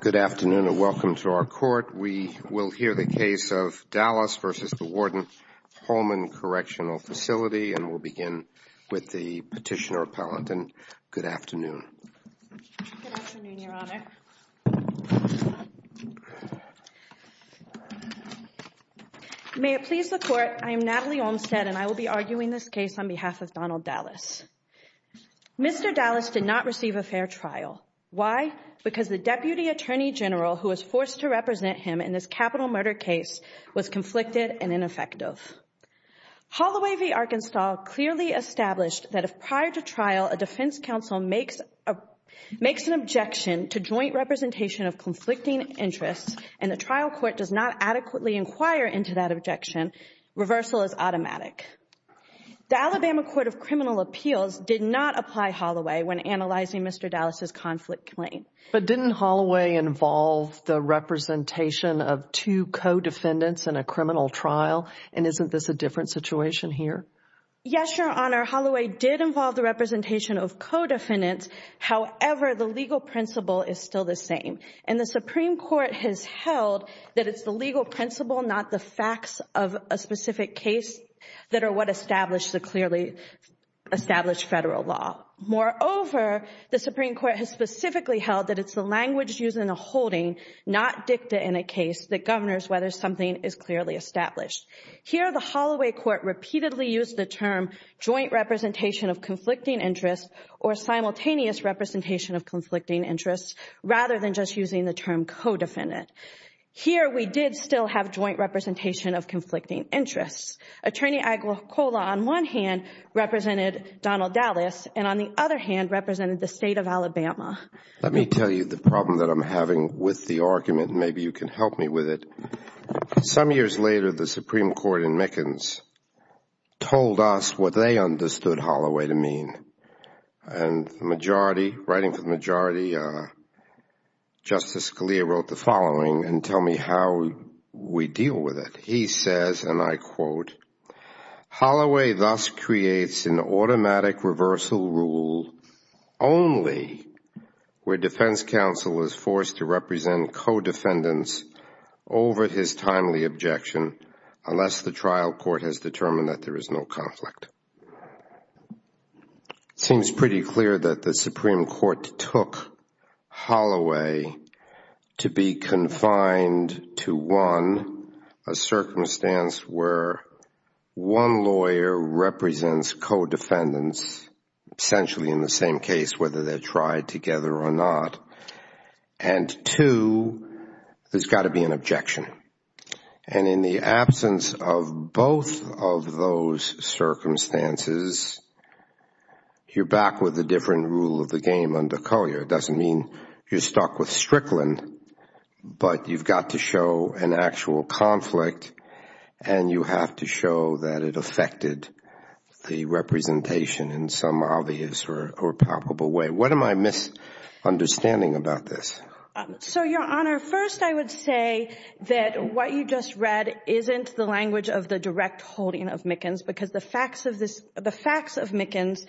Good afternoon and welcome to our court. We will hear the case of Dallas v. Warden Holman Correctional Facility, and we'll begin with the petitioner-appellant. Good afternoon. Good afternoon, Your Honor. May it please the Court, I am Natalie Olmstead and I will be arguing this case on behalf of Donald Dallas. Mr. Dallas did not receive a fair trial. Why? Because the Deputy Attorney General who was forced to represent him in this capital murder case was conflicted and ineffective. Holloway v. Arkenstahl clearly established that if prior to trial a defense counsel makes an objection to joint representation of conflicting interests and the trial court does not adequately inquire into that objection, reversal is automatic. The Alabama Court of Criminal Appeals did not apply Holloway when analyzing Mr. Dallas' conflict claim. But didn't Holloway involve the representation of two co-defendants in a criminal trial? And isn't this a different situation here? Yes, Your Honor. Holloway did involve the representation of co-defendants. However, the legal principle is still the same. And the Supreme Court has held that it's the legal principle, not the facts of a specific case, that are what establish the clearly established federal law. Moreover, the Supreme Court has specifically held that it's the language used in a holding, not dicta in a case, that governs whether something is clearly established. Here, the Holloway Court repeatedly used the term joint representation of conflicting interests or simultaneous representation of conflicting interests rather than just using the term co-defendant. Here, we did still have joint representation of conflicting interests. Attorney Aguicola, on one hand, represented Donald Dallas and, on the other hand, represented the state of Alabama. Let me tell you the problem that I'm having with the argument and maybe you can help me with it. Some years later, the Supreme Court in Mickens told us what they understood Holloway to mean. And the majority, writing for the majority, Justice Scalia wrote the following, and tell me how we deal with it. He says, and I quote, Holloway thus creates an automatic reversal rule only where defense counsel is forced to represent co-defendants over his timely objection unless the trial court has determined that there is no conflict. It seems pretty clear that the Supreme Court took Holloway to be confined to one, a circumstance where one lawyer represents co-defendants, essentially in the same case, whether they're tried together or not, and two, there's got to be an objection. And in the absence of both of those circumstances, you're back with a different rule of the game under Collier. It doesn't mean you're stuck with Strickland, but you've got to show an actual conflict and you have to show that it affected the representation in some obvious or palpable way. What am I misunderstanding about this? So, Your Honor, first I would say that what you just read isn't the language of the direct holding of Mickens, because the facts of Mickens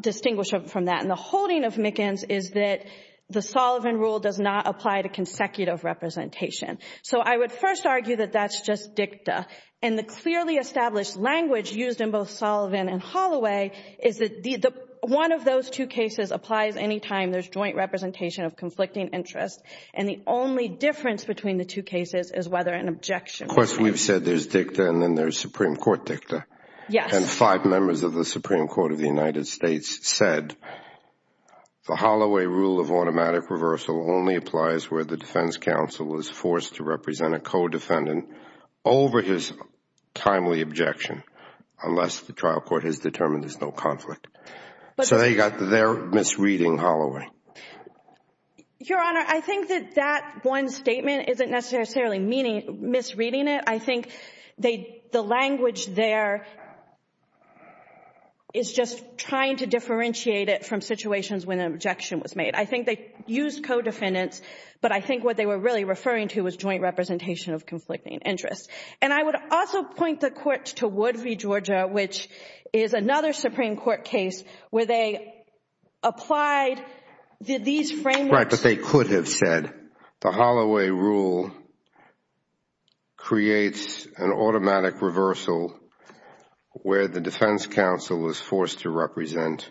distinguish from that. And the holding of Mickens is that the Sullivan rule does not apply to consecutive representation. So I would first argue that that's just dicta. And the clearly established language used in both Sullivan and Holloway is that one of those two cases applies any time there's joint representation of conflicting interests. And the only difference between the two cases is whether an objection was made. Of course, we've said there's dicta and then there's Supreme Court dicta. Yes. And five members of the Supreme Court of the United States said the Holloway rule of automatic reversal only applies where the defense counsel is forced to represent a co-defendant over his timely objection unless the trial court has determined there's no conflict. So they got their misreading Holloway. Your Honor, I think that that one statement isn't necessarily misreading it. I think the language there is just trying to differentiate it from situations when an objection was made. I think they used co-defendants, but I think what they were really referring to was joint representation of conflicting interests. And I would also point the court to Wood v. Georgia, which is another Supreme Court case where they applied these frameworks. Right, but they could have said the Holloway rule creates an automatic reversal where the defense counsel is forced to represent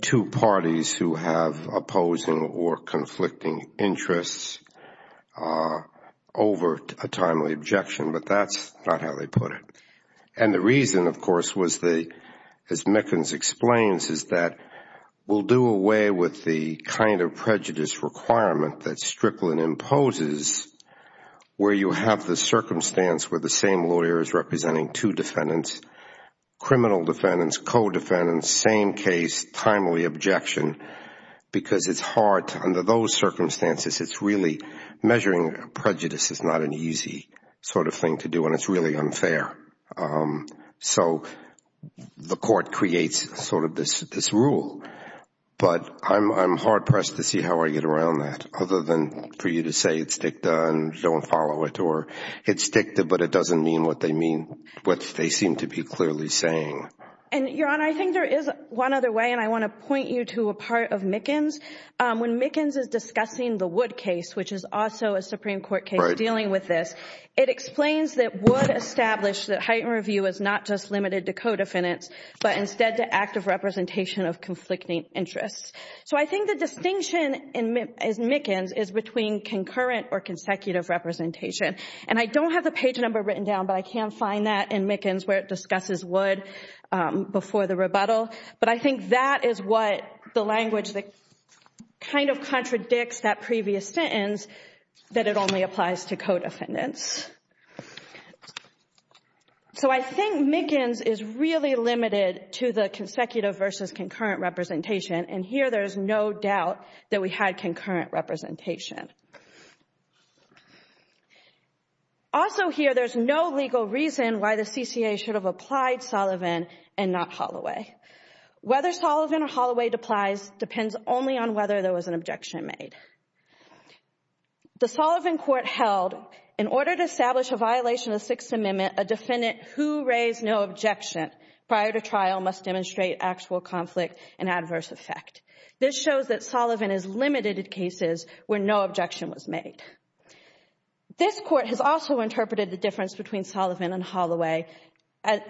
two parties who have opposing or conflicting interests over a timely objection. But that's not how they put it. And the reason, of course, as Mickens explains, is that we'll do away with the kind of prejudice requirement that Strickland imposes where you have the circumstance where the same lawyer is representing two defendants, criminal defendants, co-defendants, same case, timely objection. Because it's hard under those circumstances. It's really measuring prejudice is not an easy sort of thing to do, and it's really unfair. So the court creates sort of this rule. But I'm hard-pressed to see how I get around that, other than for you to say it's dicta and don't follow it, or it's dicta but it doesn't mean what they mean, what they seem to be clearly saying. And, Your Honor, I think there is one other way, and I want to point you to a part of Mickens. When Mickens is discussing the Wood case, which is also a Supreme Court case dealing with this, it explains that Wood established that heightened review is not just limited to co-defendants but instead to active representation of conflicting interests. So I think the distinction in Mickens is between concurrent or consecutive representation. And I don't have the page number written down, but I can find that in Mickens where it discusses Wood before the rebuttal. But I think that is what the language that kind of contradicts that previous sentence, that it only applies to co-defendants. So I think Mickens is really limited to the consecutive versus concurrent representation, and here there is no doubt that we had concurrent representation. Also here, there is no legal reason why the CCA should have applied Sullivan and not Holloway. Whether Sullivan or Holloway deplies depends only on whether there was an objection made. The Sullivan Court held, in order to establish a violation of the Sixth Amendment, a defendant who raised no objection prior to trial must demonstrate actual conflict and adverse effect. This shows that Sullivan is limited to cases where no objection was made. This Court has also interpreted the difference between Sullivan and Holloway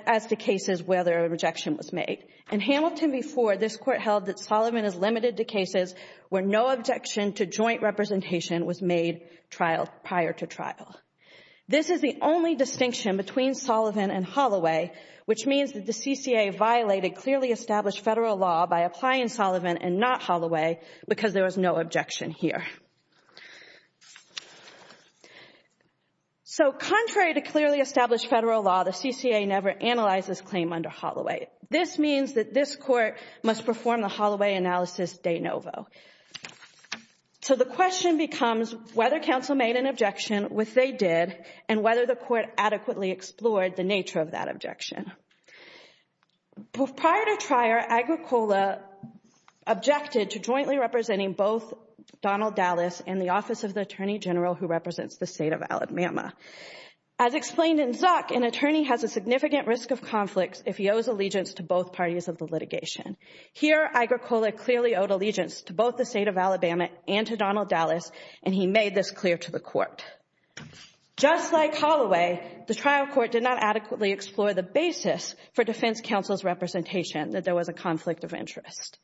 as the cases where the rejection was made. In Hamilton v. Ford, this Court held that Sullivan is limited to cases where no objection to joint representation was made prior to trial. This is the only distinction between Sullivan and Holloway, which means that the CCA violated clearly established federal law by applying Sullivan and not Holloway because there was no objection here. So contrary to clearly established federal law, the CCA never analyzed this claim under Holloway. This means that this Court must perform the Holloway analysis de novo. So the question becomes whether counsel made an objection, which they did, and whether the Court adequately explored the nature of that objection. Prior to trial, Agricola objected to jointly representing both Donald Dallas and the Office of the Attorney General who represents the State of Alabama. As explained in Zuck, an attorney has a significant risk of conflict if he owes allegiance to both parties of the litigation. Here, Agricola clearly owed allegiance to both the State of Alabama and to Donald Dallas, and he made this clear to the Court. Just like Holloway, the trial court did not adequately explore the basis for defense counsel's representation that there was a conflict of interest.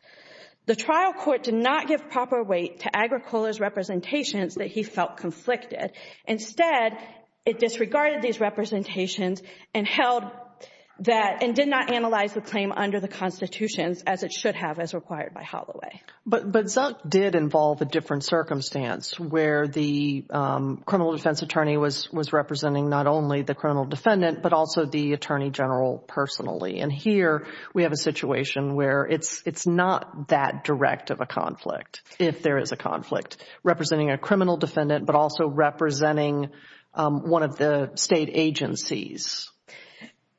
The trial court did not give proper weight to Agricola's representations that he felt conflicted. Instead, it disregarded these representations and held that, and did not analyze the claim under the Constitution as it should have as required by Holloway. But Zuck did involve a different circumstance where the criminal defense attorney was representing not only the criminal defendant, but also the attorney general personally. And here, we have a situation where it's not that direct of a conflict, if there is a conflict, representing a criminal defendant, but also representing one of the state agencies.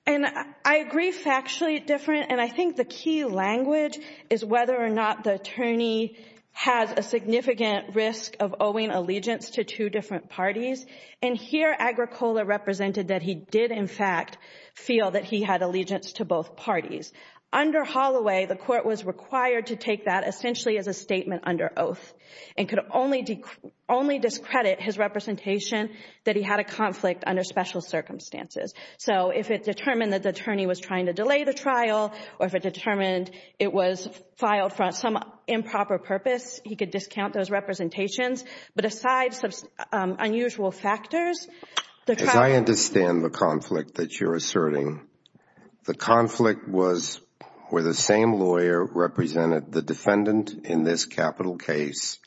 And I agree factually different, and I think the key language is whether or not the attorney has a significant risk of owing allegiance to two different parties. And here, Agricola represented that he did, in fact, feel that he had allegiance to both parties. Under Holloway, the court was required to take that essentially as a statement under oath, and could only discredit his representation that he had a conflict under special circumstances. So, if it determined that the attorney was trying to delay the trial, or if it determined it was filed for some improper purpose, he could discount those representations. But aside from unusual factors, the trial— As I understand the conflict that you're asserting, the conflict was where the same lawyer represented the defendant in this capital case,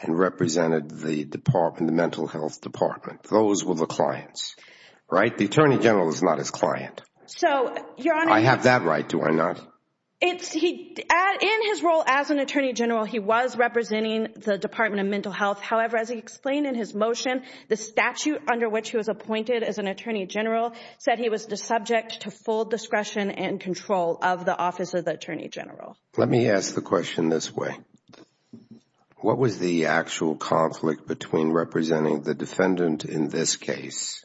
and represented the department, the mental health department. Those were the clients, right? The attorney general is not his client. So, Your Honor— I have that right, do I not? In his role as an attorney general, he was representing the department of mental health. However, as he explained in his motion, the statute under which he was appointed as an attorney general said he was subject to full discretion and control of the office of the attorney general. Let me ask the question this way. What was the actual conflict between representing the defendant in this case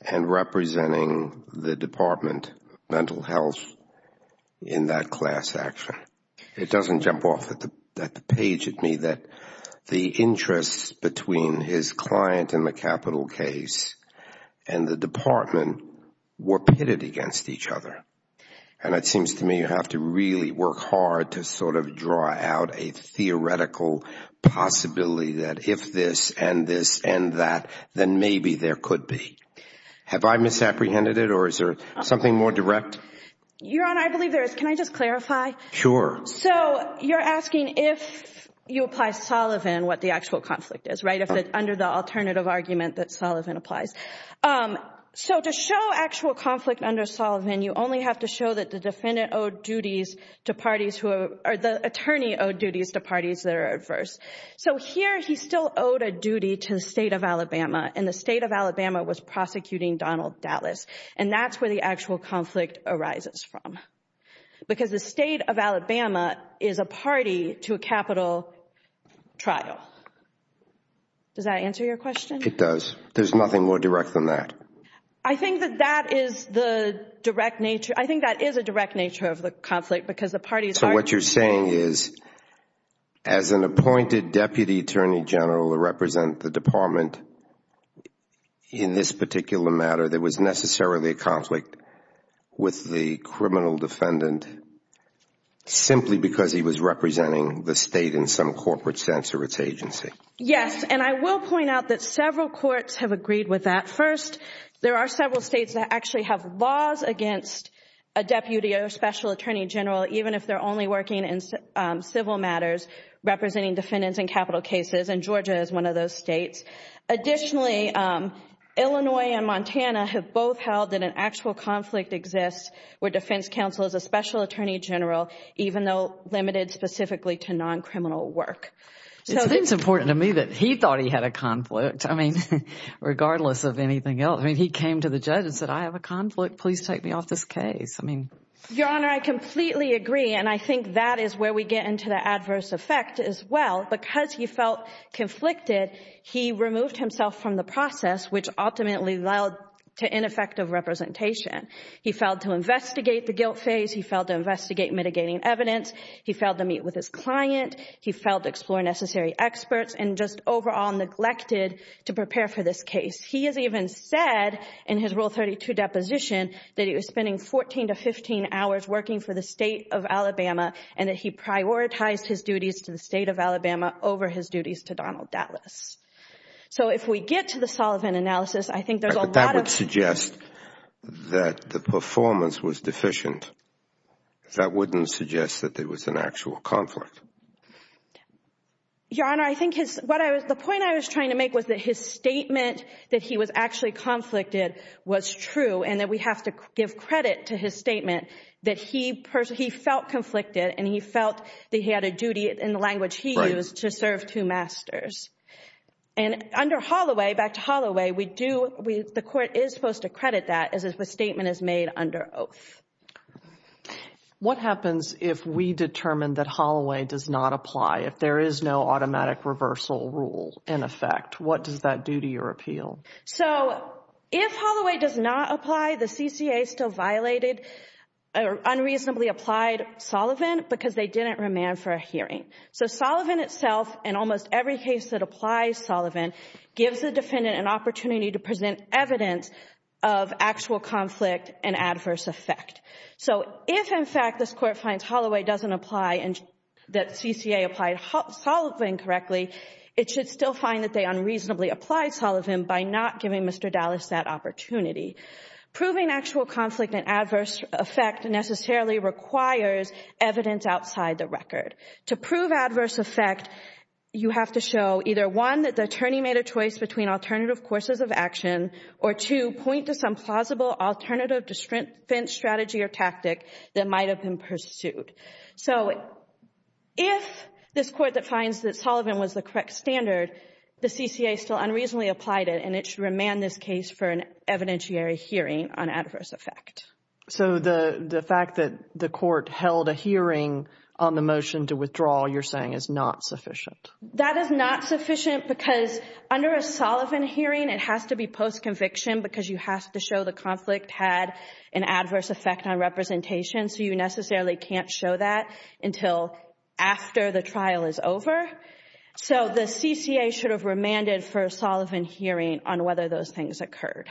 and representing the department, mental health, in that class action? It doesn't jump off at the page of me that the interests between his client in the capital case and the department were pitted against each other. And it seems to me you have to really work hard to sort of draw out a theoretical possibility that if this and this and that, then maybe there could be. Have I misapprehended it, or is there something more direct? Your Honor, I believe there is. Can I just clarify? Sure. So, you're asking if you apply Sullivan, what the actual conflict is, right? If it's under the alternative argument that Sullivan applies. So, to show actual conflict under Sullivan, you only have to show that the defendant owed duties to parties, or the attorney owed duties to parties that are adverse. So, here he still owed a duty to the state of Alabama, and the state of Alabama was prosecuting Donald Dallas. And that's where the actual conflict arises from. Because the state of Alabama is a party to a capital trial. Does that answer your question? It does. There's nothing more direct than that. I think that that is the direct nature. I think that is a direct nature of the conflict because the parties are. So, what you're saying is, as an appointed deputy attorney general to represent the department in this particular matter, there was necessarily a conflict with the criminal defendant simply because he was representing the state in some corporate sense or its agency. Yes, and I will point out that several courts have agreed with that. First, there are several states that actually have laws against a deputy or special attorney general, even if they're only working in civil matters, representing defendants in capital cases. And Georgia is one of those states. Additionally, Illinois and Montana have both held that an actual conflict exists where defense counsel is a special attorney general, even though limited specifically to non-criminal work. It seems important to me that he thought he had a conflict, I mean, regardless of anything else. I mean, he came to the judge and said, I have a conflict. Please take me off this case. Your Honor, I completely agree, and I think that is where we get into the adverse effect as well. Because he felt conflicted, he removed himself from the process, which ultimately led to ineffective representation. He failed to investigate the guilt phase. He failed to investigate mitigating evidence. He failed to meet with his client. He failed to explore necessary experts and just overall neglected to prepare for this case. He has even said in his Rule 32 deposition that he was spending 14 to 15 hours working for the state of Alabama and that he prioritized his duties to the state of Alabama over his duties to Donald Dallas. So if we get to the Sullivan analysis, I think there's a lot of— But that would suggest that the performance was deficient. That wouldn't suggest that there was an actual conflict. Your Honor, I think his—the point I was trying to make was that his statement that he was actually conflicted was true and that we have to give credit to his statement that he felt conflicted and he felt that he had a duty in the language he used to serve two masters. And under Holloway, back to Holloway, we do—the court is supposed to credit that as if a statement is made under oath. What happens if we determine that Holloway does not apply, if there is no automatic reversal rule in effect? What does that do to your appeal? So if Holloway does not apply, the CCA still violated—or unreasonably applied Sullivan because they didn't remand for a hearing. So Sullivan itself, in almost every case that applies Sullivan, gives the defendant an opportunity to present evidence of actual conflict and adverse effect. So if, in fact, this Court finds Holloway doesn't apply and that CCA applied Sullivan correctly, it should still find that they unreasonably applied Sullivan by not giving Mr. Dallas that opportunity. Proving actual conflict and adverse effect necessarily requires evidence outside the record. To prove adverse effect, you have to show either, one, that the attorney made a choice between alternative courses of action, or two, point to some plausible alternative defense strategy or tactic that might have been pursued. So if this Court defines that Sullivan was the correct standard, the CCA still unreasonably applied it and it should remand this case for an evidentiary hearing on adverse effect. So the fact that the Court held a hearing on the motion to withdraw, you're saying, is not sufficient? That is not sufficient because under a Sullivan hearing, it has to be post-conviction because you have to show the conflict had an adverse effect on representation. So you necessarily can't show that until after the trial is over. So the CCA should have remanded for a Sullivan hearing on whether those things occurred.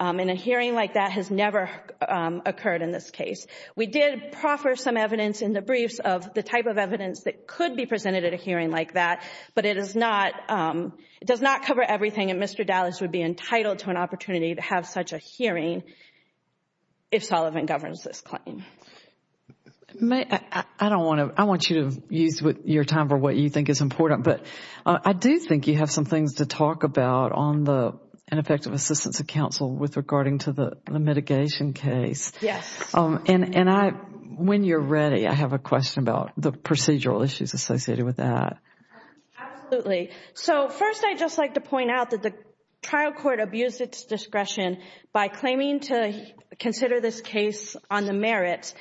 And a hearing like that has never occurred in this case. We did proffer some evidence in the briefs of the type of evidence that could be presented at a hearing like that, but it does not cover everything and Mr. Dallas would be entitled to an opportunity to have such a hearing if Sullivan governs this claim. I want you to use your time for what you think is important, but I do think you have some things to talk about on the ineffective assistance of counsel with regarding to the mitigation case. Yes. And when you're ready, I have a question about the procedural issues associated with that. Absolutely. So first, I'd just like to point out that the trial court abused its discretion by claiming to consider this case on the merits,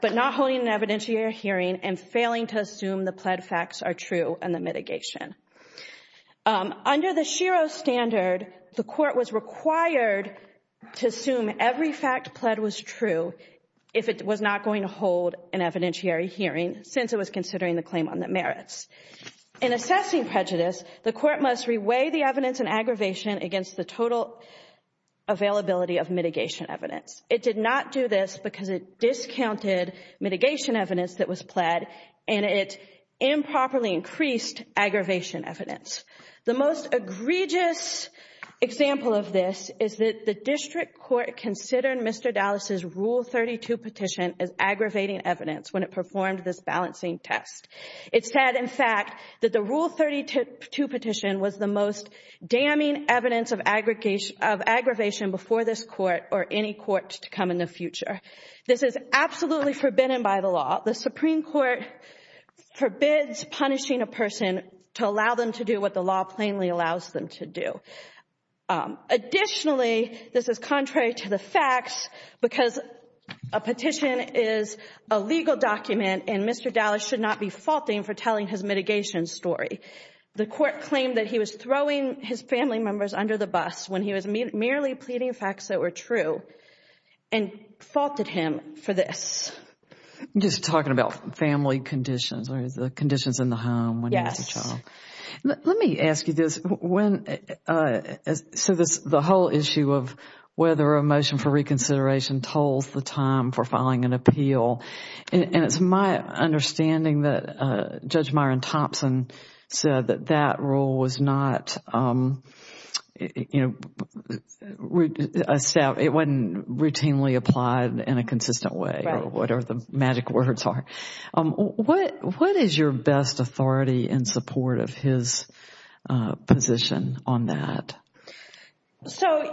but not holding an evidentiary hearing and failing to assume the pled facts are true and the mitigation. Under the SHERO standard, the court was required to assume every fact pled was true if it was not going to hold an evidentiary hearing since it was considering the claim on the merits. In assessing prejudice, the court must reweigh the evidence in aggravation against the total availability of mitigation evidence. It did not do this because it discounted mitigation evidence that was pled and it improperly increased aggravation evidence. The most egregious example of this is that the district court considered Mr. Dallas's Rule 32 petition as aggravating evidence when it performed this balancing test. It said, in fact, that the Rule 32 petition was the most damning evidence of aggravation before this court or any court to come in the future. This is absolutely forbidden by the law. The Supreme Court forbids punishing a person to allow them to do what the law plainly allows them to do. Additionally, this is contrary to the facts because a petition is a legal document and Mr. Dallas should not be faulting for telling his mitigation story. The court claimed that he was throwing his family members under the bus when he was merely pleading facts that were true and faulted him for this. Just talking about family conditions or the conditions in the home. Yes. Let me ask you this. The whole issue of whether a motion for reconsideration tolls the time for filing an appeal. It is my understanding that Judge Myron Thompson said that that rule was not routinely applied in a consistent way or whatever the magic words are. What is your best authority in support of his position on that?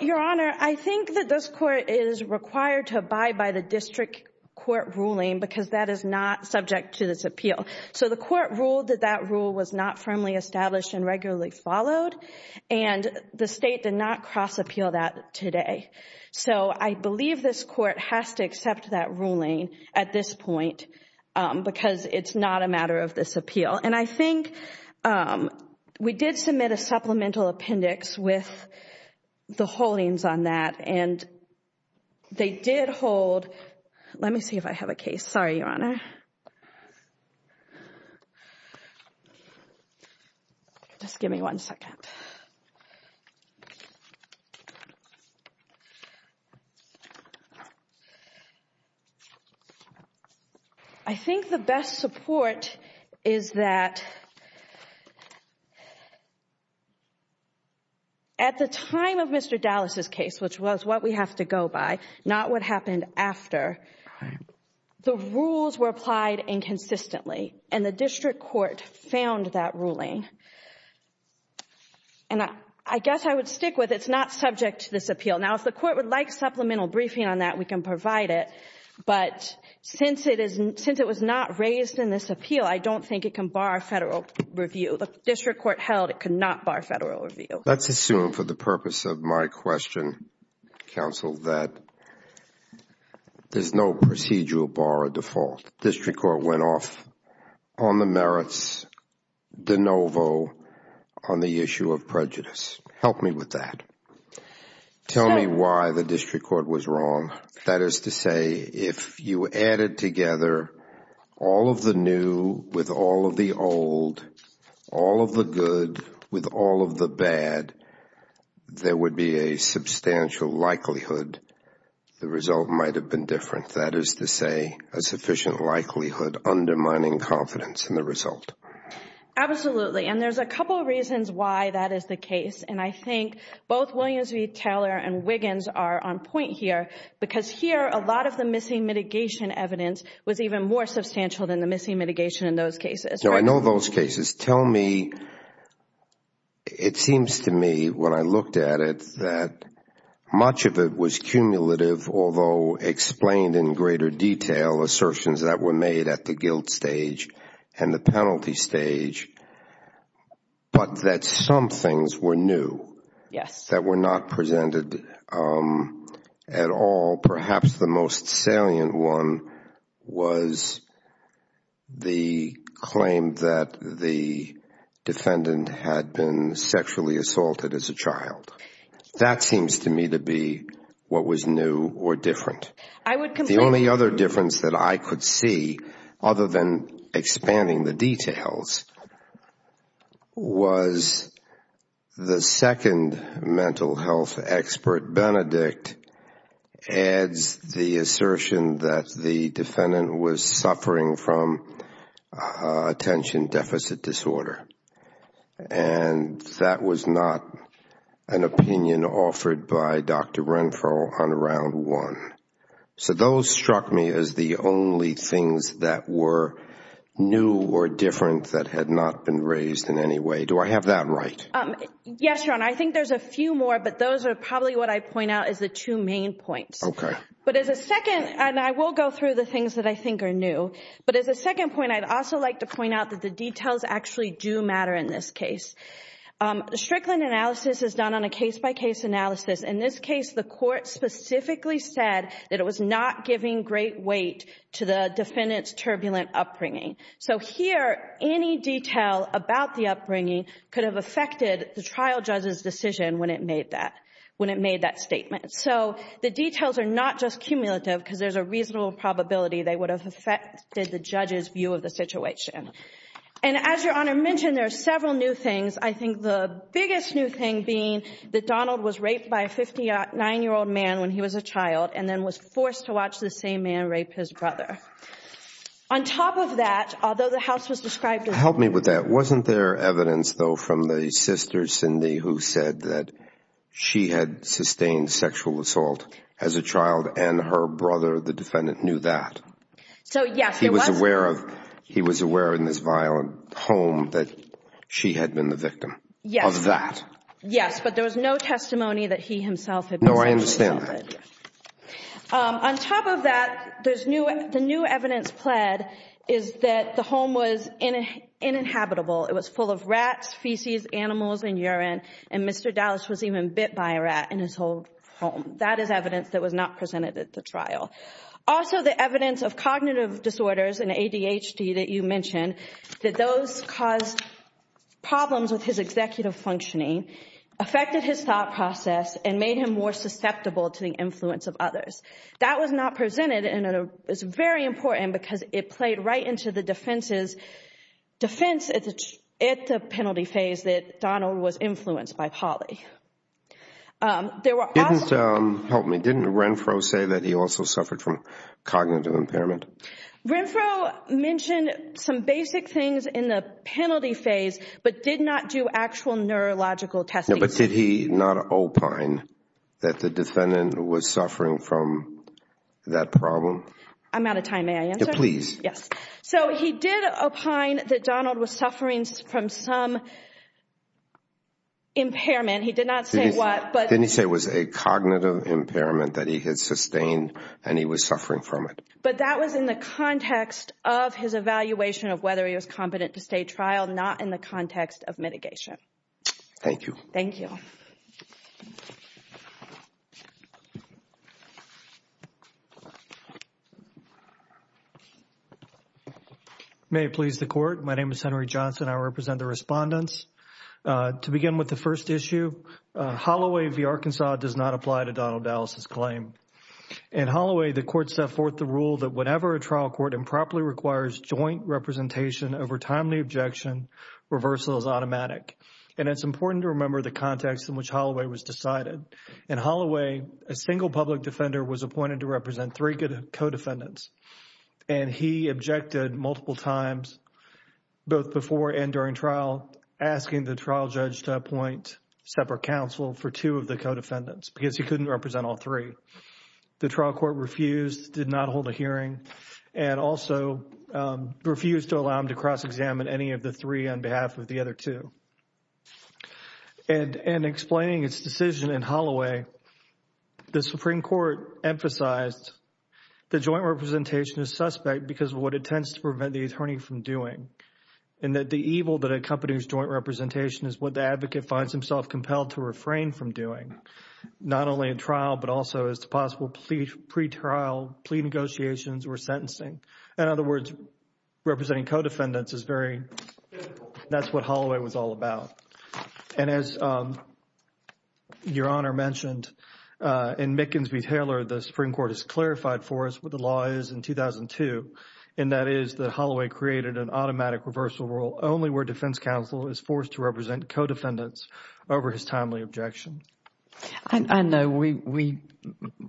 Your Honor, I think that this court is required to abide by the district court ruling because that is not subject to this appeal. The court ruled that that rule was not firmly established and regularly followed and the state did not cross appeal that today. So I believe this court has to accept that ruling at this point because it's not a matter of this appeal. And I think we did submit a supplemental appendix with the holdings on that and they did hold. Let me see if I have a case. Sorry, Your Honor. Just give me one second. I think the best support is that at the time of Mr. Dallas's case, which was what we have to go by, not what happened after, the rules were applied inconsistently and the district court found that ruling. And I guess I would stick with it's not subject to this appeal. Now, if the court would like supplemental briefing on that, we can provide it. But since it was not raised in this appeal, I don't think it can bar federal review. The district court held it could not bar federal review. Let's assume for the purpose of my question, counsel, that there's no procedural bar or default. District court went off on the merits de novo on the issue of prejudice. Help me with that. Tell me why the district court was wrong. That is to say, if you added together all of the new with all of the old, all of the good with all of the bad, there would be a substantial likelihood the result might have been different. That is to say, a sufficient likelihood undermining confidence in the result. Absolutely. And there's a couple of reasons why that is the case. And I think both Williams v. Taylor and Wiggins are on point here because here a lot of the missing mitigation evidence was even more substantial than the missing mitigation in those cases. I know those cases. Tell me, it seems to me when I looked at it that much of it was cumulative, although explained in greater detail, assertions that were made at the guilt stage and the penalty stage, but that some things were new. Yes. That were not presented at all. Perhaps the most salient one was the claim that the defendant had been sexually assaulted as a child. That seems to me to be what was new or different. The only other difference that I could see, other than expanding the details, was the second mental health expert, Benedict, adds the assertion that the defendant was suffering from attention deficit disorder. And that was not an opinion offered by Dr. Renfro on Round 1. So those struck me as the only things that were new or different that had not been raised in any way. Do I have that right? Yes, Your Honor. I think there's a few more, but those are probably what I'd point out as the two main points. Okay. But as a second, and I will go through the things that I think are new, but as a second point, I'd also like to point out that the details actually do matter in this case. Strickland analysis is done on a case-by-case analysis. In this case, the court specifically said that it was not giving great weight to the defendant's turbulent upbringing. So here, any detail about the upbringing could have affected the trial judge's decision when it made that statement. So the details are not just cumulative because there's a reasonable probability they would have affected the judge's view of the situation. And as Your Honor mentioned, there are several new things. I think the biggest new thing being that Donald was raped by a 59-year-old man when he was a child and then was forced to watch the same man rape his brother. On top of that, although the house was described as- Help me with that. Wasn't there evidence, though, from the sister, Cindy, who said that she had sustained sexual assault as a child and her brother, the defendant, knew that? So, yes, there was. He was aware in this violent home that she had been the victim of that. Yes, but there was no testimony that he himself had been sexually assaulted. No, I understand that. On top of that, the new evidence pled is that the home was inhabitable. It was full of rats, feces, animals, and urine, and Mr. Dallas was even bit by a rat in his whole home. That is evidence that was not presented at the trial. Also, the evidence of cognitive disorders and ADHD that you mentioned, that those caused problems with his executive functioning, affected his thought process, and made him more susceptible to the influence of others. That was not presented, and it's very important because it played right into the defense at the penalty phase that Donald was influenced by Polly. Didn't Renfro say that he also suffered from cognitive impairment? Renfro mentioned some basic things in the penalty phase but did not do actual neurological testing. But did he not opine that the defendant was suffering from that problem? I'm out of time. May I answer? Please. Yes. So he did opine that Donald was suffering from some impairment. He did not say what. Didn't he say it was a cognitive impairment that he had sustained and he was suffering from it? But that was in the context of his evaluation of whether he was competent to stay trial, not in the context of mitigation. Thank you. Thank you. May it please the Court. My name is Henry Johnson. I represent the respondents. To begin with the first issue, Holloway v. Arkansas does not apply to Donald Dallas's claim. In Holloway, the Court set forth the rule that whenever a trial court improperly requires joint representation over timely objection, reversal is automatic. And it's important to remember the context in which Holloway was decided. In Holloway, a single public defender was appointed to represent three co-defendants. And he objected multiple times, both before and during trial, asking the trial judge to appoint separate counsel for two of the co-defendants because he couldn't represent all three. The trial court refused, did not hold a hearing, and also refused to allow him to cross-examine any of the three on behalf of the other two. And in explaining its decision in Holloway, the Supreme Court emphasized the joint representation is suspect because of what it tends to prevent the attorney from doing, and that the evil that accompanies joint representation is what the advocate finds himself compelled to refrain from doing, not only in trial but also as to possible pre-trial plea negotiations or sentencing. In other words, representing co-defendants is very difficult. That's what Holloway was all about. And as Your Honor mentioned, in Mickens v. Taylor, the Supreme Court has clarified for us what the law is in 2002, and that is that Holloway created an automatic reversal rule only where defense counsel is forced to represent co-defendants over his timely objection. I know we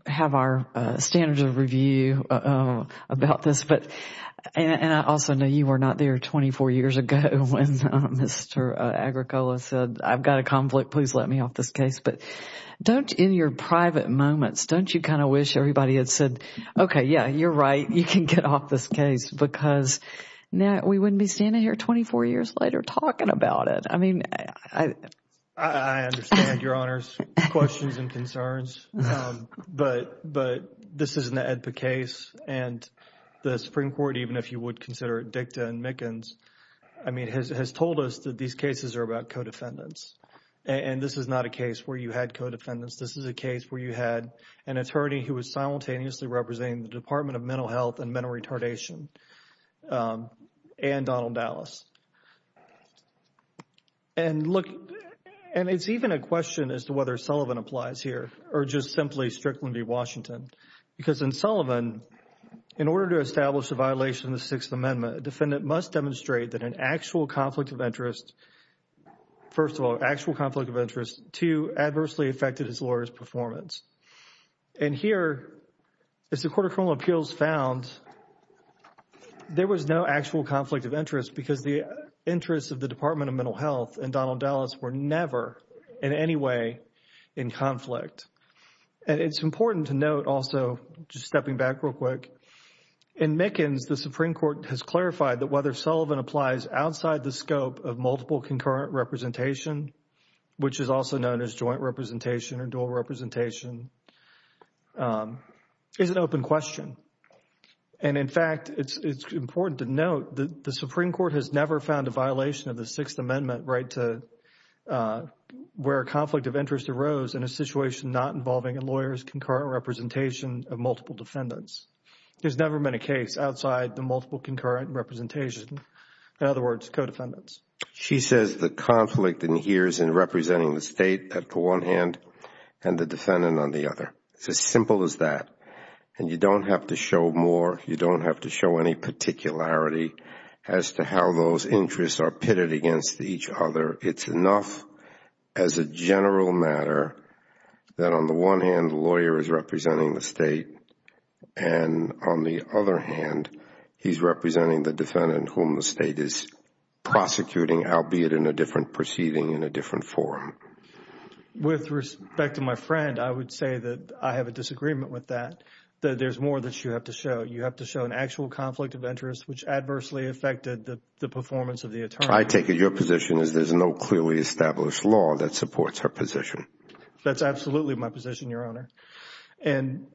have our standards of review about this, and I also know you were not there 24 years ago when Mr. Agricola said, I've got a conflict, please let me off this case. But don't, in your private moments, don't you kind of wish everybody had said, okay, yeah, you're right, you can get off this case, because we wouldn't be standing here 24 years later talking about it. I understand Your Honor's questions and concerns, but this is an AEDPA case, and the Supreme Court, even if you would consider it DICTA and Mickens, has told us that these cases are about co-defendants. And this is not a case where you had co-defendants. This is a case where you had an attorney who was simultaneously representing the Department of Mental Health and Mental Retardation and Donald Dallas. And look, and it's even a question as to whether Sullivan applies here or just simply Strickland v. Washington, because in Sullivan, in order to establish a violation of the Sixth Amendment, a defendant must demonstrate that an actual conflict of interest, first of all, actual conflict of interest, two, adversely affected his lawyer's performance. And here, as the Court of Criminal Appeals found, there was no actual conflict of interest, because the interests of the Department of Mental Health and Donald Dallas were never in any way in conflict. And it's important to note also, just stepping back real quick, in Mickens, the Supreme Court has clarified that whether Sullivan applies outside the scope of multiple concurrent representation, which is also known as joint representation or dual representation, is an open question. And in fact, it's important to note that the Supreme Court has never found a violation of the Sixth Amendment where a conflict of interest arose in a situation not involving a lawyer's concurrent representation of multiple defendants. There's never been a case outside the multiple concurrent representation, in other words, co-defendants. She says the conflict adheres in representing the state at the one hand and the defendant on the other. It's as simple as that. And you don't have to show more. You don't have to show any particularity as to how those interests are pitted against each other. It's enough as a general matter that on the one hand, the lawyer is representing the state, and on the other hand, he's representing the defendant whom the state is prosecuting, albeit in a different proceeding, in a different forum. With respect to my friend, I would say that I have a disagreement with that, that there's more that you have to show. You have to show an actual conflict of interest which adversely affected the performance of the attorney. I take it your position is there's no clearly established law that supports her position. That's absolutely my position, Your Honor. And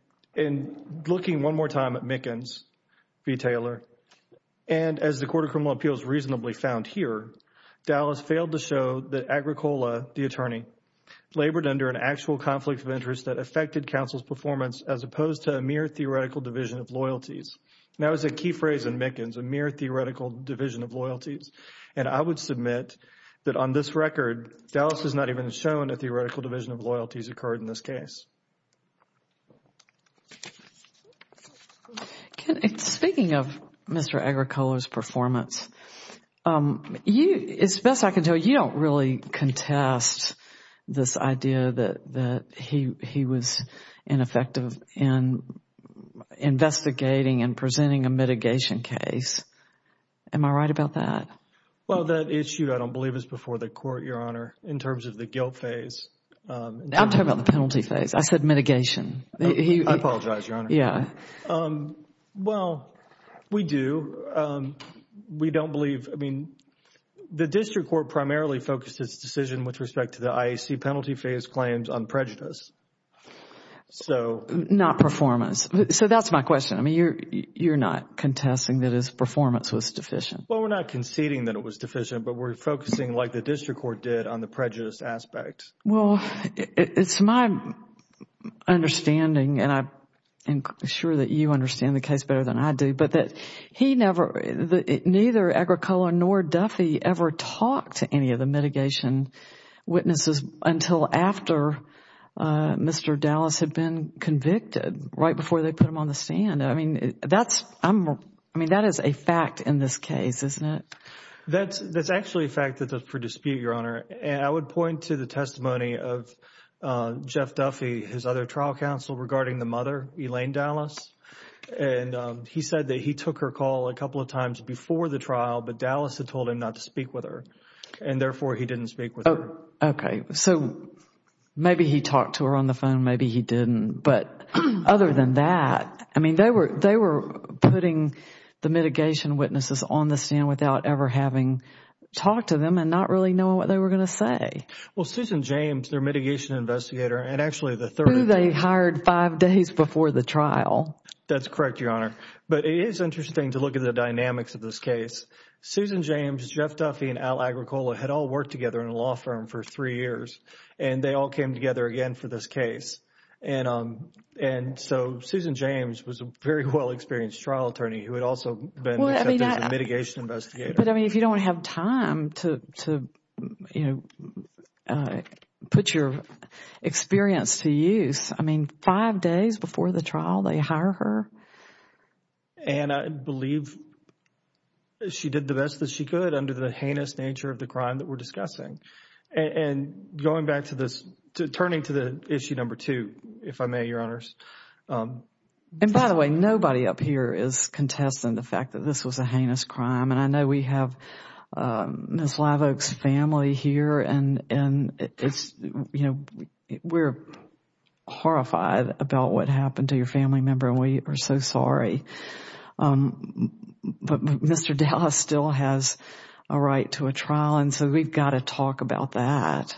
looking one more time at Mickens v. Taylor, and as the Court of Criminal Appeals reasonably found here, Dallas failed to show that Agricola, the attorney, labored under an actual conflict of interest that affected counsel's performance as opposed to a mere theoretical division of loyalties. That was a key phrase in Mickens, a mere theoretical division of loyalties. And I would submit that on this record, Dallas has not even shown a theoretical division of loyalties occurred in this case. Speaking of Mr. Agricola's performance, as best I can tell you, you don't really contest this idea that he was ineffective in investigating and presenting a mitigation case. Am I right about that? Well, that issue, I don't believe, is before the court, Your Honor, in terms of the guilt phase. I'm talking about the penalty phase. I said mitigation. I apologize, Your Honor. Yeah. Well, we do. We don't believe, I mean, the district court primarily focused its decision with respect to the IAC penalty phase claims on prejudice. Not performance. So that's my question. I mean, you're not contesting that his performance was deficient. Well, we're not conceding that it was deficient, but we're focusing, like the district court did, on the prejudice aspect. Well, it's my understanding, and I'm sure that you understand the case better than I do, but that neither Agricola nor Duffy ever talked to any of the mitigation witnesses until after Mr. Dallas had been convicted, right before they put him on the stand. I mean, that is a fact in this case, isn't it? That's actually a fact that's for dispute, Your Honor. And I would point to the testimony of Jeff Duffy, his other trial counsel, regarding the mother, Elaine Dallas. And he said that he took her call a couple of times before the trial, but Dallas had told him not to speak with her. And therefore, he didn't speak with her. Okay. So maybe he talked to her on the phone. Maybe he didn't. But other than that, I mean, they were putting the mitigation witnesses on the stand without ever having talked to them and not really knowing what they were going to say. Well, Susan James, their mitigation investigator, and actually the third… Who they hired five days before the trial. That's correct, Your Honor. But it is interesting to look at the dynamics of this case. Susan James, Jeff Duffy, and Al Agricola had all worked together in a law firm for three years, and they all came together again for this case. And so Susan James was a very well-experienced trial attorney who had also been accepted as a mitigation investigator. But, I mean, if you don't have time to, you know, put your experience to use, I mean, five days before the trial, they hire her? And I believe she did the best that she could under the heinous nature of the crime that we're discussing. And going back to this, turning to the issue number two, if I may, Your Honors. And, by the way, nobody up here is contesting the fact that this was a heinous crime. And I know we have Ms. Live Oak's family here, and, you know, we're horrified about what happened to your family member, and we are so sorry. But Mr. Dallas still has a right to a trial, and so we've got to talk about that.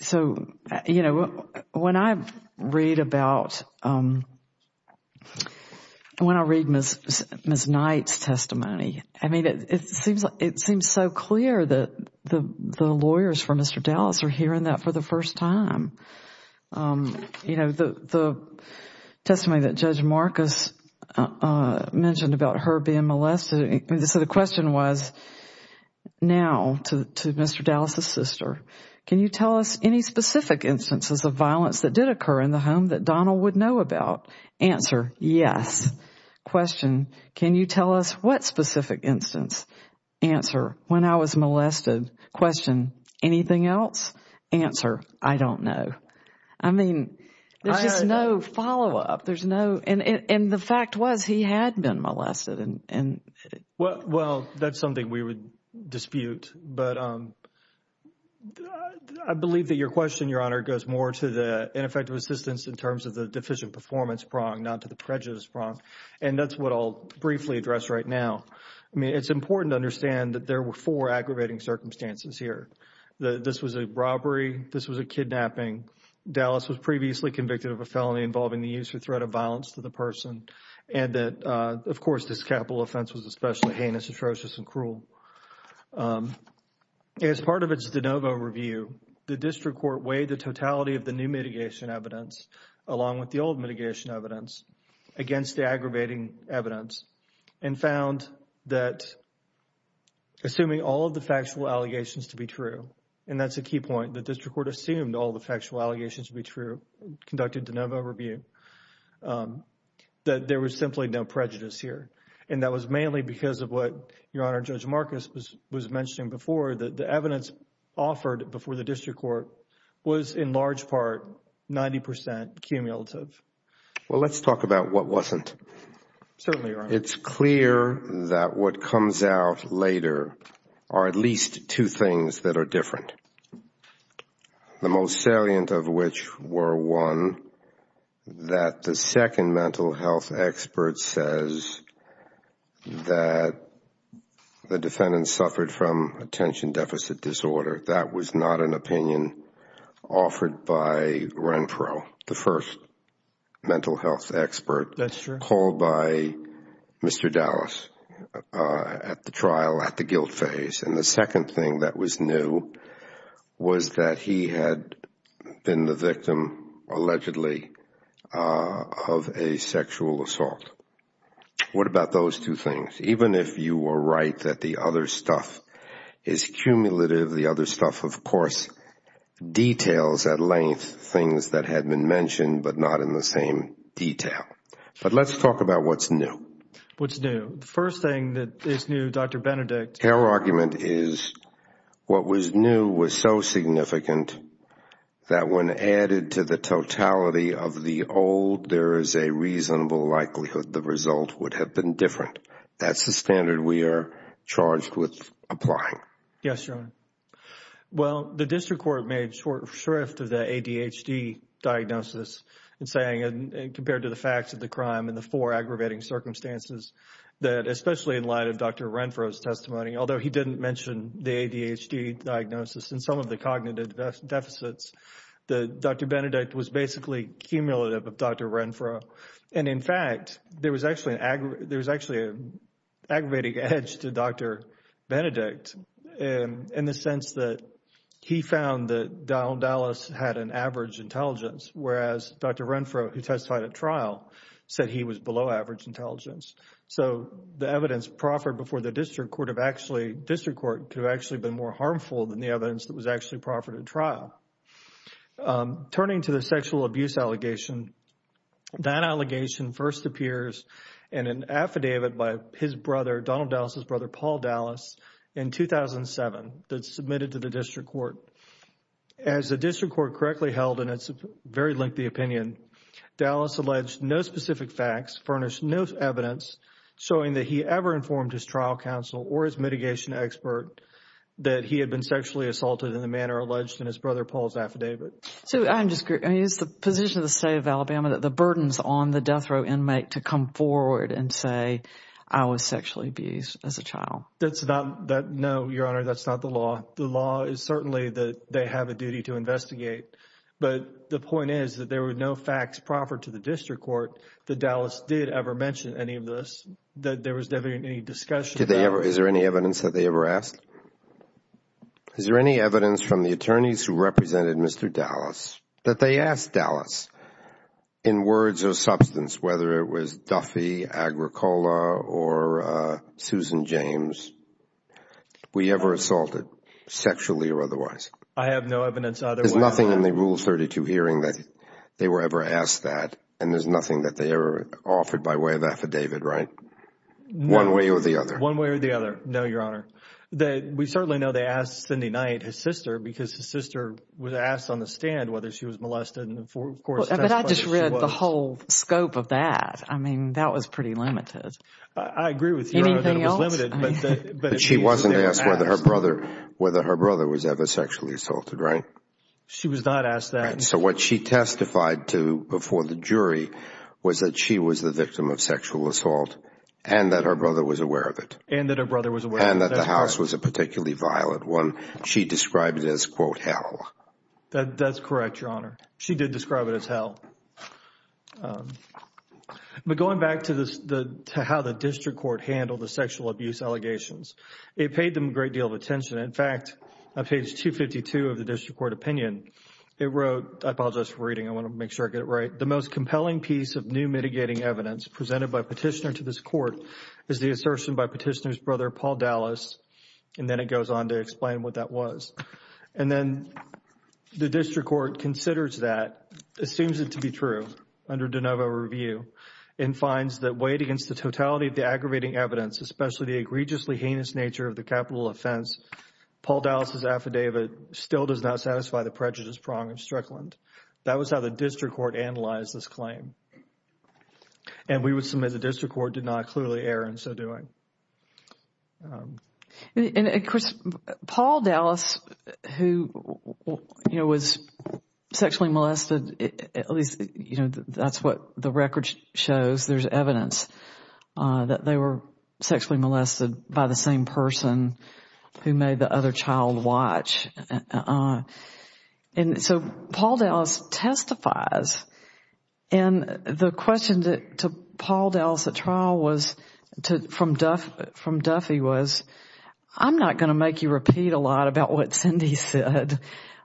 So, you know, when I read about, when I read Ms. Knight's testimony, I mean, it seems so clear that the lawyers for Mr. Dallas are hearing that for the first time. You know, the testimony that Judge Marcus mentioned about her being molested, so the question was, now, to Mr. Dallas's sister, can you tell us any specific instances of violence that did occur in the home that Donald would know about? Answer, yes. Question, can you tell us what specific instance? Answer, when I was molested. Question, anything else? Answer, I don't know. I mean, there's just no follow-up. There's no, and the fact was he had been molested. Well, that's something we would dispute, but I believe that your question, Your Honor, goes more to the ineffective assistance in terms of the deficient performance prong, not to the prejudice prong. And that's what I'll briefly address right now. I mean, it's important to understand that there were four aggravating circumstances here. This was a robbery. This was a kidnapping. Dallas was previously convicted of a felony involving the use or threat of violence to the person. And that, of course, this capital offense was especially heinous, atrocious, and cruel. As part of its de novo review, the district court weighed the totality of the new mitigation evidence, along with the old mitigation evidence, against the aggravating evidence, and found that assuming all of the factual allegations to be true, and that's a key point, the district court assumed all the factual allegations to be true, conducted de novo review, that there was simply no prejudice here. And that was mainly because of what, Your Honor, Judge Marcus was mentioning before, that the evidence offered before the district court was, in large part, 90 percent cumulative. Well, let's talk about what wasn't. Certainly, Your Honor. It's clear that what comes out later are at least two things that are different, the most salient of which were, one, that the second mental health expert says that the defendant suffered from attention deficit disorder. That was not an opinion offered by Renfro, the first mental health expert. That's true. Called by Mr. Dallas at the trial, at the guilt phase. And the second thing that was new was that he had been the victim, allegedly, of a sexual assault. What about those two things? Even if you were right that the other stuff is cumulative, the other stuff, of course, details at length, things that had been mentioned but not in the same detail. But let's talk about what's new. What's new? The first thing that is new, Dr. Benedict. Her argument is what was new was so significant that when added to the totality of the old, there is a reasonable likelihood the result would have been different. That's the standard we are charged with applying. Yes, Your Honor. Well, the district court made short shrift of the ADHD diagnosis and saying, compared to the facts of the crime and the four aggravating circumstances, that especially in light of Dr. Renfro's testimony, although he didn't mention the ADHD diagnosis and some of the cognitive deficits, that Dr. Benedict was basically cumulative of Dr. Renfro. And, in fact, there was actually an aggravating edge to Dr. Benedict. In the sense that he found that Donald Dallas had an average intelligence, whereas Dr. Renfro, who testified at trial, said he was below average intelligence. So the evidence proffered before the district court could have actually been more harmful than the evidence that was actually proffered at trial. Turning to the sexual abuse allegation, that allegation first appears in an affidavit by his brother, Donald Dallas' brother, Paul Dallas, in 2007, that's submitted to the district court. As the district court correctly held, and it's a very lengthy opinion, Dallas alleged no specific facts, furnished no evidence, showing that he ever informed his trial counsel or his mitigation expert that he had been sexually assaulted in the manner alleged in his brother Paul's affidavit. So I'm just curious, the position of the state of Alabama, the burdens on the death row inmate to come forward and say, I was sexually abused as a child. No, Your Honor, that's not the law. The law is certainly that they have a duty to investigate. But the point is that there were no facts proffered to the district court that Dallas did ever mention any of this, that there was never any discussion. Is there any evidence that they ever asked? Is there any evidence from the attorneys who represented Mr. Dallas that they asked Dallas? In words or substance, whether it was Duffy, Agricola, or Susan James, were you ever assaulted, sexually or otherwise? I have no evidence either way. There's nothing in the Rule 32 hearing that they were ever asked that, and there's nothing that they ever offered by way of affidavit, right? One way or the other. One way or the other, no, Your Honor. We certainly know they asked Cindy Knight, his sister, because his sister was asked on the stand whether she was molested. But I just read the whole scope of that. I mean, that was pretty limited. I agree with you, Your Honor, that it was limited. But she wasn't asked whether her brother was ever sexually assaulted, right? She was not asked that. So what she testified to before the jury was that she was the victim of sexual assault and that her brother was aware of it. And that her brother was aware of it. And that the house was a particularly violent one. She described it as, quote, hell. That's correct, Your Honor. She did describe it as hell. But going back to how the district court handled the sexual abuse allegations, it paid them a great deal of attention. In fact, on page 252 of the district court opinion, it wrote, I apologize for reading, I want to make sure I get it right, the most compelling piece of new mitigating evidence presented by a petitioner to this court is the assertion by petitioner's brother, Paul Dallas, and then it goes on to explain what that was. And then the district court considers that, assumes it to be true, under de novo review, and finds that weighed against the totality of the aggravating evidence, especially the egregiously heinous nature of the capital offense, Paul Dallas' affidavit still does not satisfy the prejudice prong of Strickland. That was how the district court analyzed this claim. And we would submit the district court did not clearly err in so doing. And, of course, Paul Dallas, who, you know, was sexually molested, at least, you know, that's what the record shows. There's evidence that they were sexually molested by the same person who made the other child watch. And so Paul Dallas testifies. And the question to Paul Dallas at trial from Duffy was, I'm not going to make you repeat a lot about what Cindy said,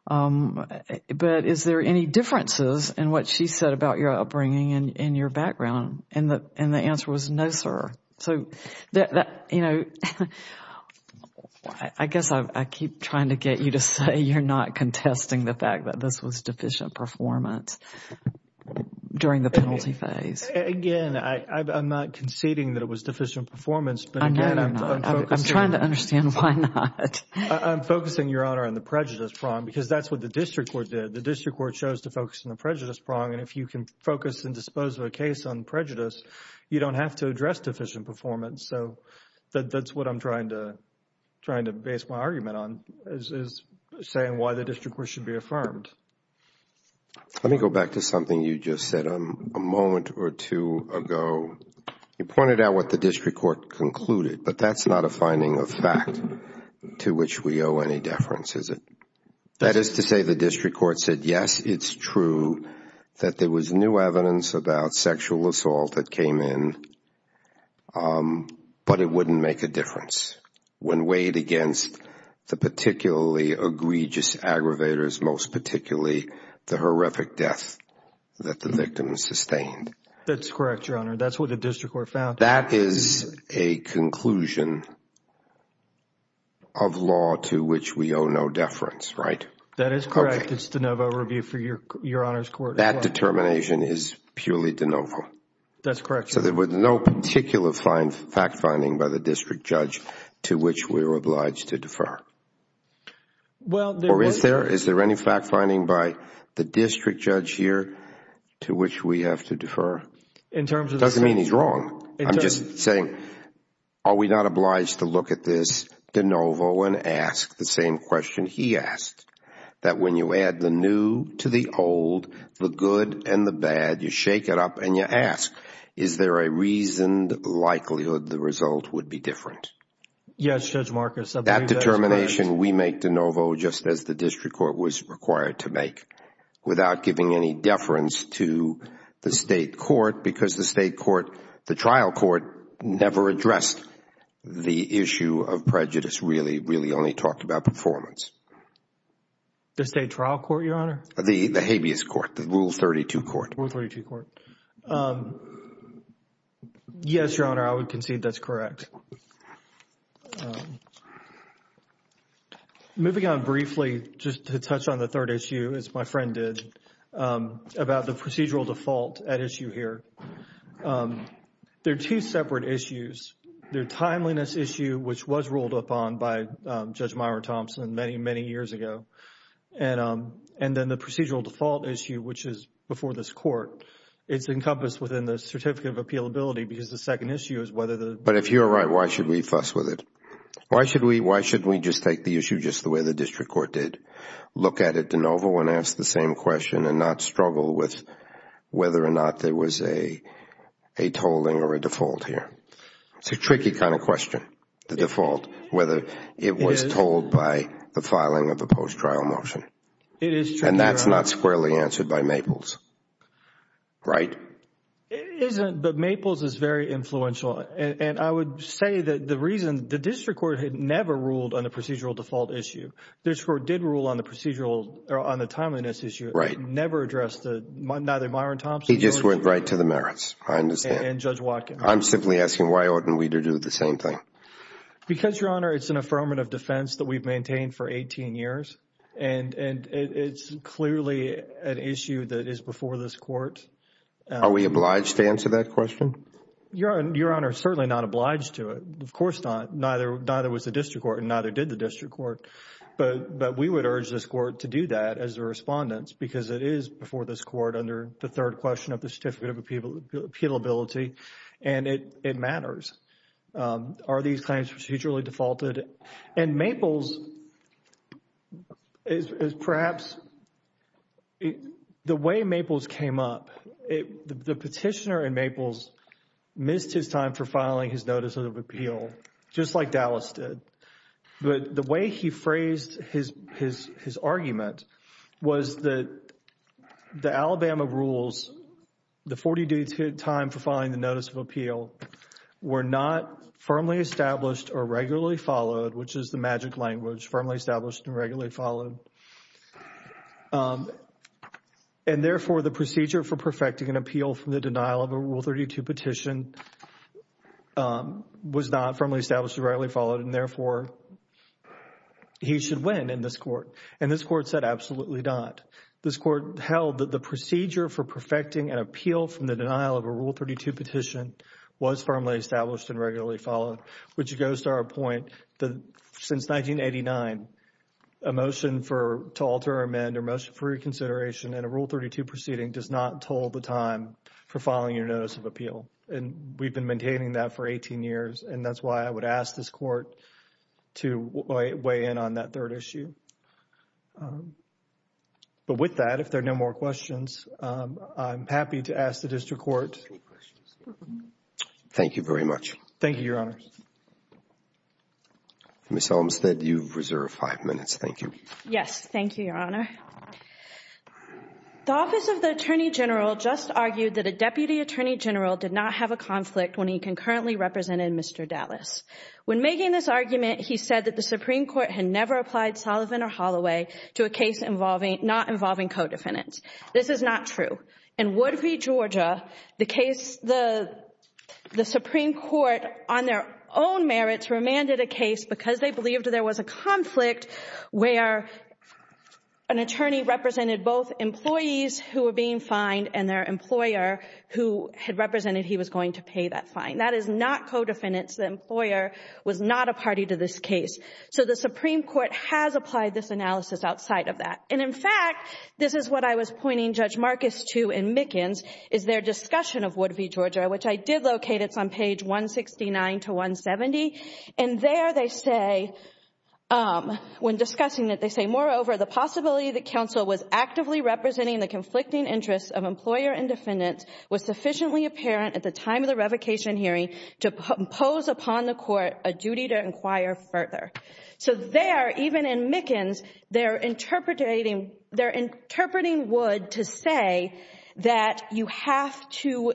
but is there any differences in what she said about your upbringing and your background? And the answer was, no, sir. So, you know, I guess I keep trying to get you to say you're not contesting the fact that this was deficient performance during the penalty phase. Again, I'm not conceding that it was deficient performance. No, no, no. I'm trying to understand why not. I'm focusing, Your Honor, on the prejudice prong because that's what the district court did. The district court chose to focus on the prejudice prong. And if you can focus and dispose of a case on prejudice, you don't have to address deficient performance. So that's what I'm trying to base my argument on, is saying why the district court should be affirmed. Let me go back to something you just said a moment or two ago. You pointed out what the district court concluded, but that's not a finding of fact to which we owe any deference, is it? That is to say the district court said, yes, it's true that there was new evidence about sexual assault that came in, but it wouldn't make a difference. When weighed against the particularly egregious aggravators, most particularly the horrific death that the victim sustained. That's correct, Your Honor. That's what the district court found. That is a conclusion of law to which we owe no deference, right? That is correct. It's de novo review for Your Honor's court. That determination is purely de novo. That's correct, Your Honor. So there was no particular fact finding by the district judge to which we were obliged to defer? Or is there any fact finding by the district judge here to which we have to defer? It doesn't mean he's wrong. I'm just saying are we not obliged to look at this de novo and ask the same question he asked, that when you add the new to the old, the good and the bad, you shake it up and you ask, is there a reasoned likelihood the result would be different? Yes, Judge Marcus. That determination we make de novo just as the district court was required to make without giving any deference to the state court because the state court, the trial court, never addressed the issue of prejudice, really, really only talked about performance. The state trial court, Your Honor? The habeas court, the Rule 32 court. Rule 32 court. Yes, Your Honor, I would concede that's correct. Moving on briefly, just to touch on the third issue, as my friend did, about the procedural default at issue here. They're two separate issues. They're timeliness issue, which was ruled upon by Judge Myra Thompson many, many years ago, and then the procedural default issue, which is before this court. It's encompassed within the certificate of appealability because the second issue is whether the... But if you're right, why should we fuss with it? Why shouldn't we just take the issue just the way the district court did, look at it de novo and ask the same question and not struggle with whether or not there was a tolling or a default here? It's a tricky kind of question, the default, whether it was told by the filing of the post-trial motion. It is true, Your Honor. And that's not squarely answered by Maples, right? It isn't, but Maples is very influential, and I would say that the reason... The district court had never ruled on the procedural default issue. The district court did rule on the procedural... or on the timeliness issue. Right. It never addressed the... Neither Myra Thompson... He just went right to the merits, I understand. And Judge Watkins. I'm simply asking why oughtn't we to do the same thing? Because, Your Honor, it's an affirmative defense that we've maintained for 18 years, and it's clearly an issue that is before this court. Are we obliged to answer that question? Your Honor, certainly not obliged to it. Of course not. Neither was the district court, and neither did the district court. But we would urge this court to do that as a respondent because it is before this court under the third question of the certificate of appealability, and it matters. Are these claims procedurally defaulted? And Maples is perhaps... The way Maples came up, the petitioner in Maples missed his time for filing his notice of appeal, just like Dallas did. But the way he phrased his argument was that the Alabama rules, the 40 days' time for filing the notice of appeal, were not firmly established or regularly followed, which is the magic language, firmly established and regularly followed. And therefore, the procedure for perfecting an appeal from the denial of a Rule 32 petition was not firmly established or regularly followed, and therefore, he should win in this court. And this court said absolutely not. This court held that the procedure for perfecting an appeal from the denial of a Rule 32 petition was firmly established and regularly followed, which goes to our point that since 1989, a motion to alter, amend, or motion for reconsideration in a Rule 32 proceeding does not toll the time for filing your notice of appeal. And we've been maintaining that for 18 years, and that's why I would ask this court to weigh in on that third issue. But with that, if there are no more questions, I'm happy to ask the district court. Thank you very much. Thank you, Your Honor. Ms. Olmstead, you've reserved five minutes. Thank you. Yes, thank you, Your Honor. The Office of the Attorney General just argued that a Deputy Attorney General did not have a conflict when he concurrently represented Mr. Dallas. When making this argument, he said that the Supreme Court had never applied Sullivan or Holloway to a case not involving co-defendants. This is not true. In Woodview, Georgia, the Supreme Court, on their own merits, remanded a case because they believed there was a conflict where an attorney represented both employees who were being fined and their employer who had represented he was going to pay that fine. That is not co-defendants. The employer was not a party to this case. So the Supreme Court has applied this analysis outside of that. And, in fact, this is what I was pointing Judge Marcus to in Mickens, is their discussion of Woodview, Georgia, which I did locate. It's on page 169 to 170. And there they say, when discussing it, they say, Moreover, the possibility that counsel was actively representing the conflicting interests of employer and defendant was sufficiently apparent at the time of the revocation hearing to impose upon the court a duty to inquire further. So there, even in Mickens, they're interpreting Wood to say that you have to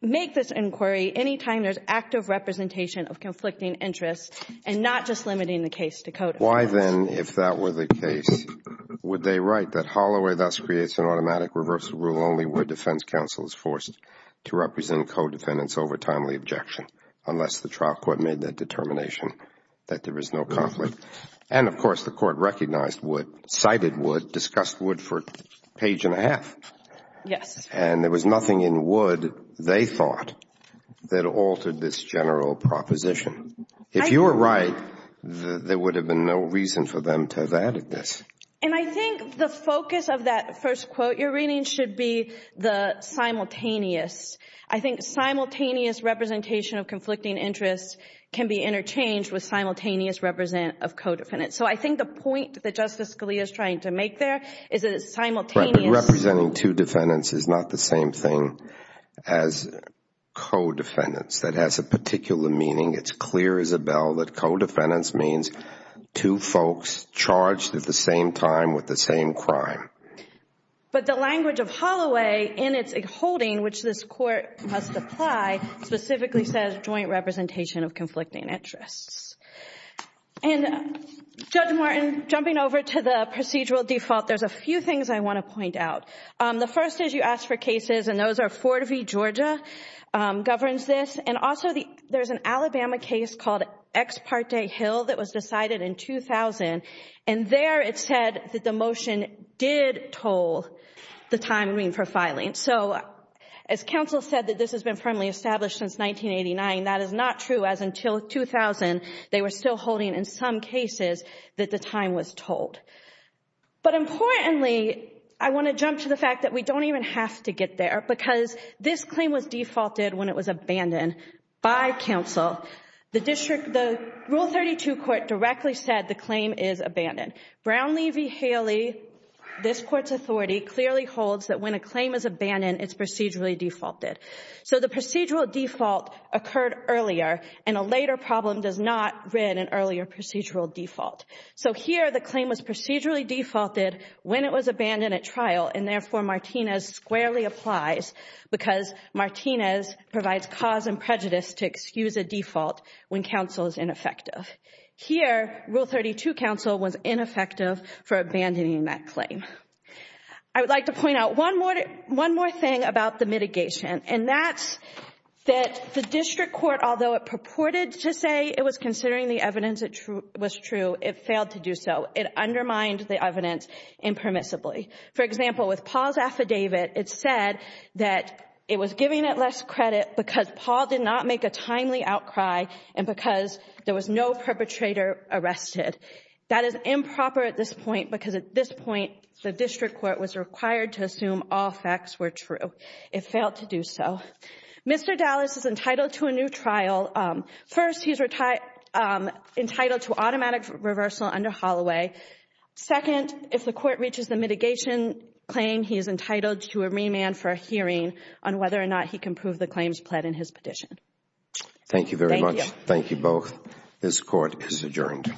make this inquiry any time there's active representation of conflicting interests and not just limiting the case to co-defendants. Why, then, if that were the case, would they write that Holloway thus creates an automatic reversal rule only where defense counsel is forced to represent co-defendants over timely objection unless the trial court made that determination that there is no conflict? And, of course, the court recognized Wood, cited Wood, discussed Wood for a page and a half. Yes. And there was nothing in Wood, they thought, that altered this general proposition. If you were right, there would have been no reason for them to have added this. And I think the focus of that first quote you're reading should be the simultaneous. I think simultaneous representation of conflicting interests can be interchanged with simultaneous represent of co-defendants. So I think the point that Justice Scalia is trying to make there is that it's simultaneous. Right, but representing two defendants is not the same thing as co-defendants. That has a particular meaning. It's clear, Isabel, that co-defendants means two folks charged at the same time with the same crime. But the language of Holloway in its holding, which this court must apply, specifically says joint representation of conflicting interests. And, Judge Martin, jumping over to the procedural default, there's a few things I want to point out. The first is you asked for cases, and those are Fort V, Georgia, governs this. And also there's an Alabama case called Ex Parte Hill that was decided in 2000, and there it said that the motion did toll the time we need for filing. So as counsel said that this has been firmly established since 1989, that is not true as until 2000 they were still holding in some cases that the time was tolled. But importantly, I want to jump to the fact that we don't even have to get there because this claim was defaulted when it was abandoned by counsel. The Rule 32 court directly said the claim is abandoned. Brown v. Haley, this court's authority, clearly holds that when a claim is abandoned, it's procedurally defaulted. So the procedural default occurred earlier, and a later problem does not rid an earlier procedural default. So here the claim was procedurally defaulted when it was abandoned at trial, and therefore Martinez squarely applies because Martinez provides cause and prejudice to excuse a default when counsel is ineffective. Here Rule 32 counsel was ineffective for abandoning that claim. I would like to point out one more thing about the mitigation, and that's that the district court, although it purported to say it was considering the evidence it was true, it failed to do so. It undermined the evidence impermissibly. For example, with Paul's affidavit, it said that it was giving it less credit because Paul did not make a timely outcry and because there was no perpetrator arrested. That is improper at this point because at this point the district court was required to assume all facts were true. It failed to do so. Mr. Dallas is entitled to a new trial. First, he's entitled to automatic reversal under Holloway. Second, if the court reaches the mitigation claim, he is entitled to a remand for a hearing on whether or not he can prove the claims pled in his petition. Thank you very much. Thank you. Thank you both. This court is adjourned. All rise.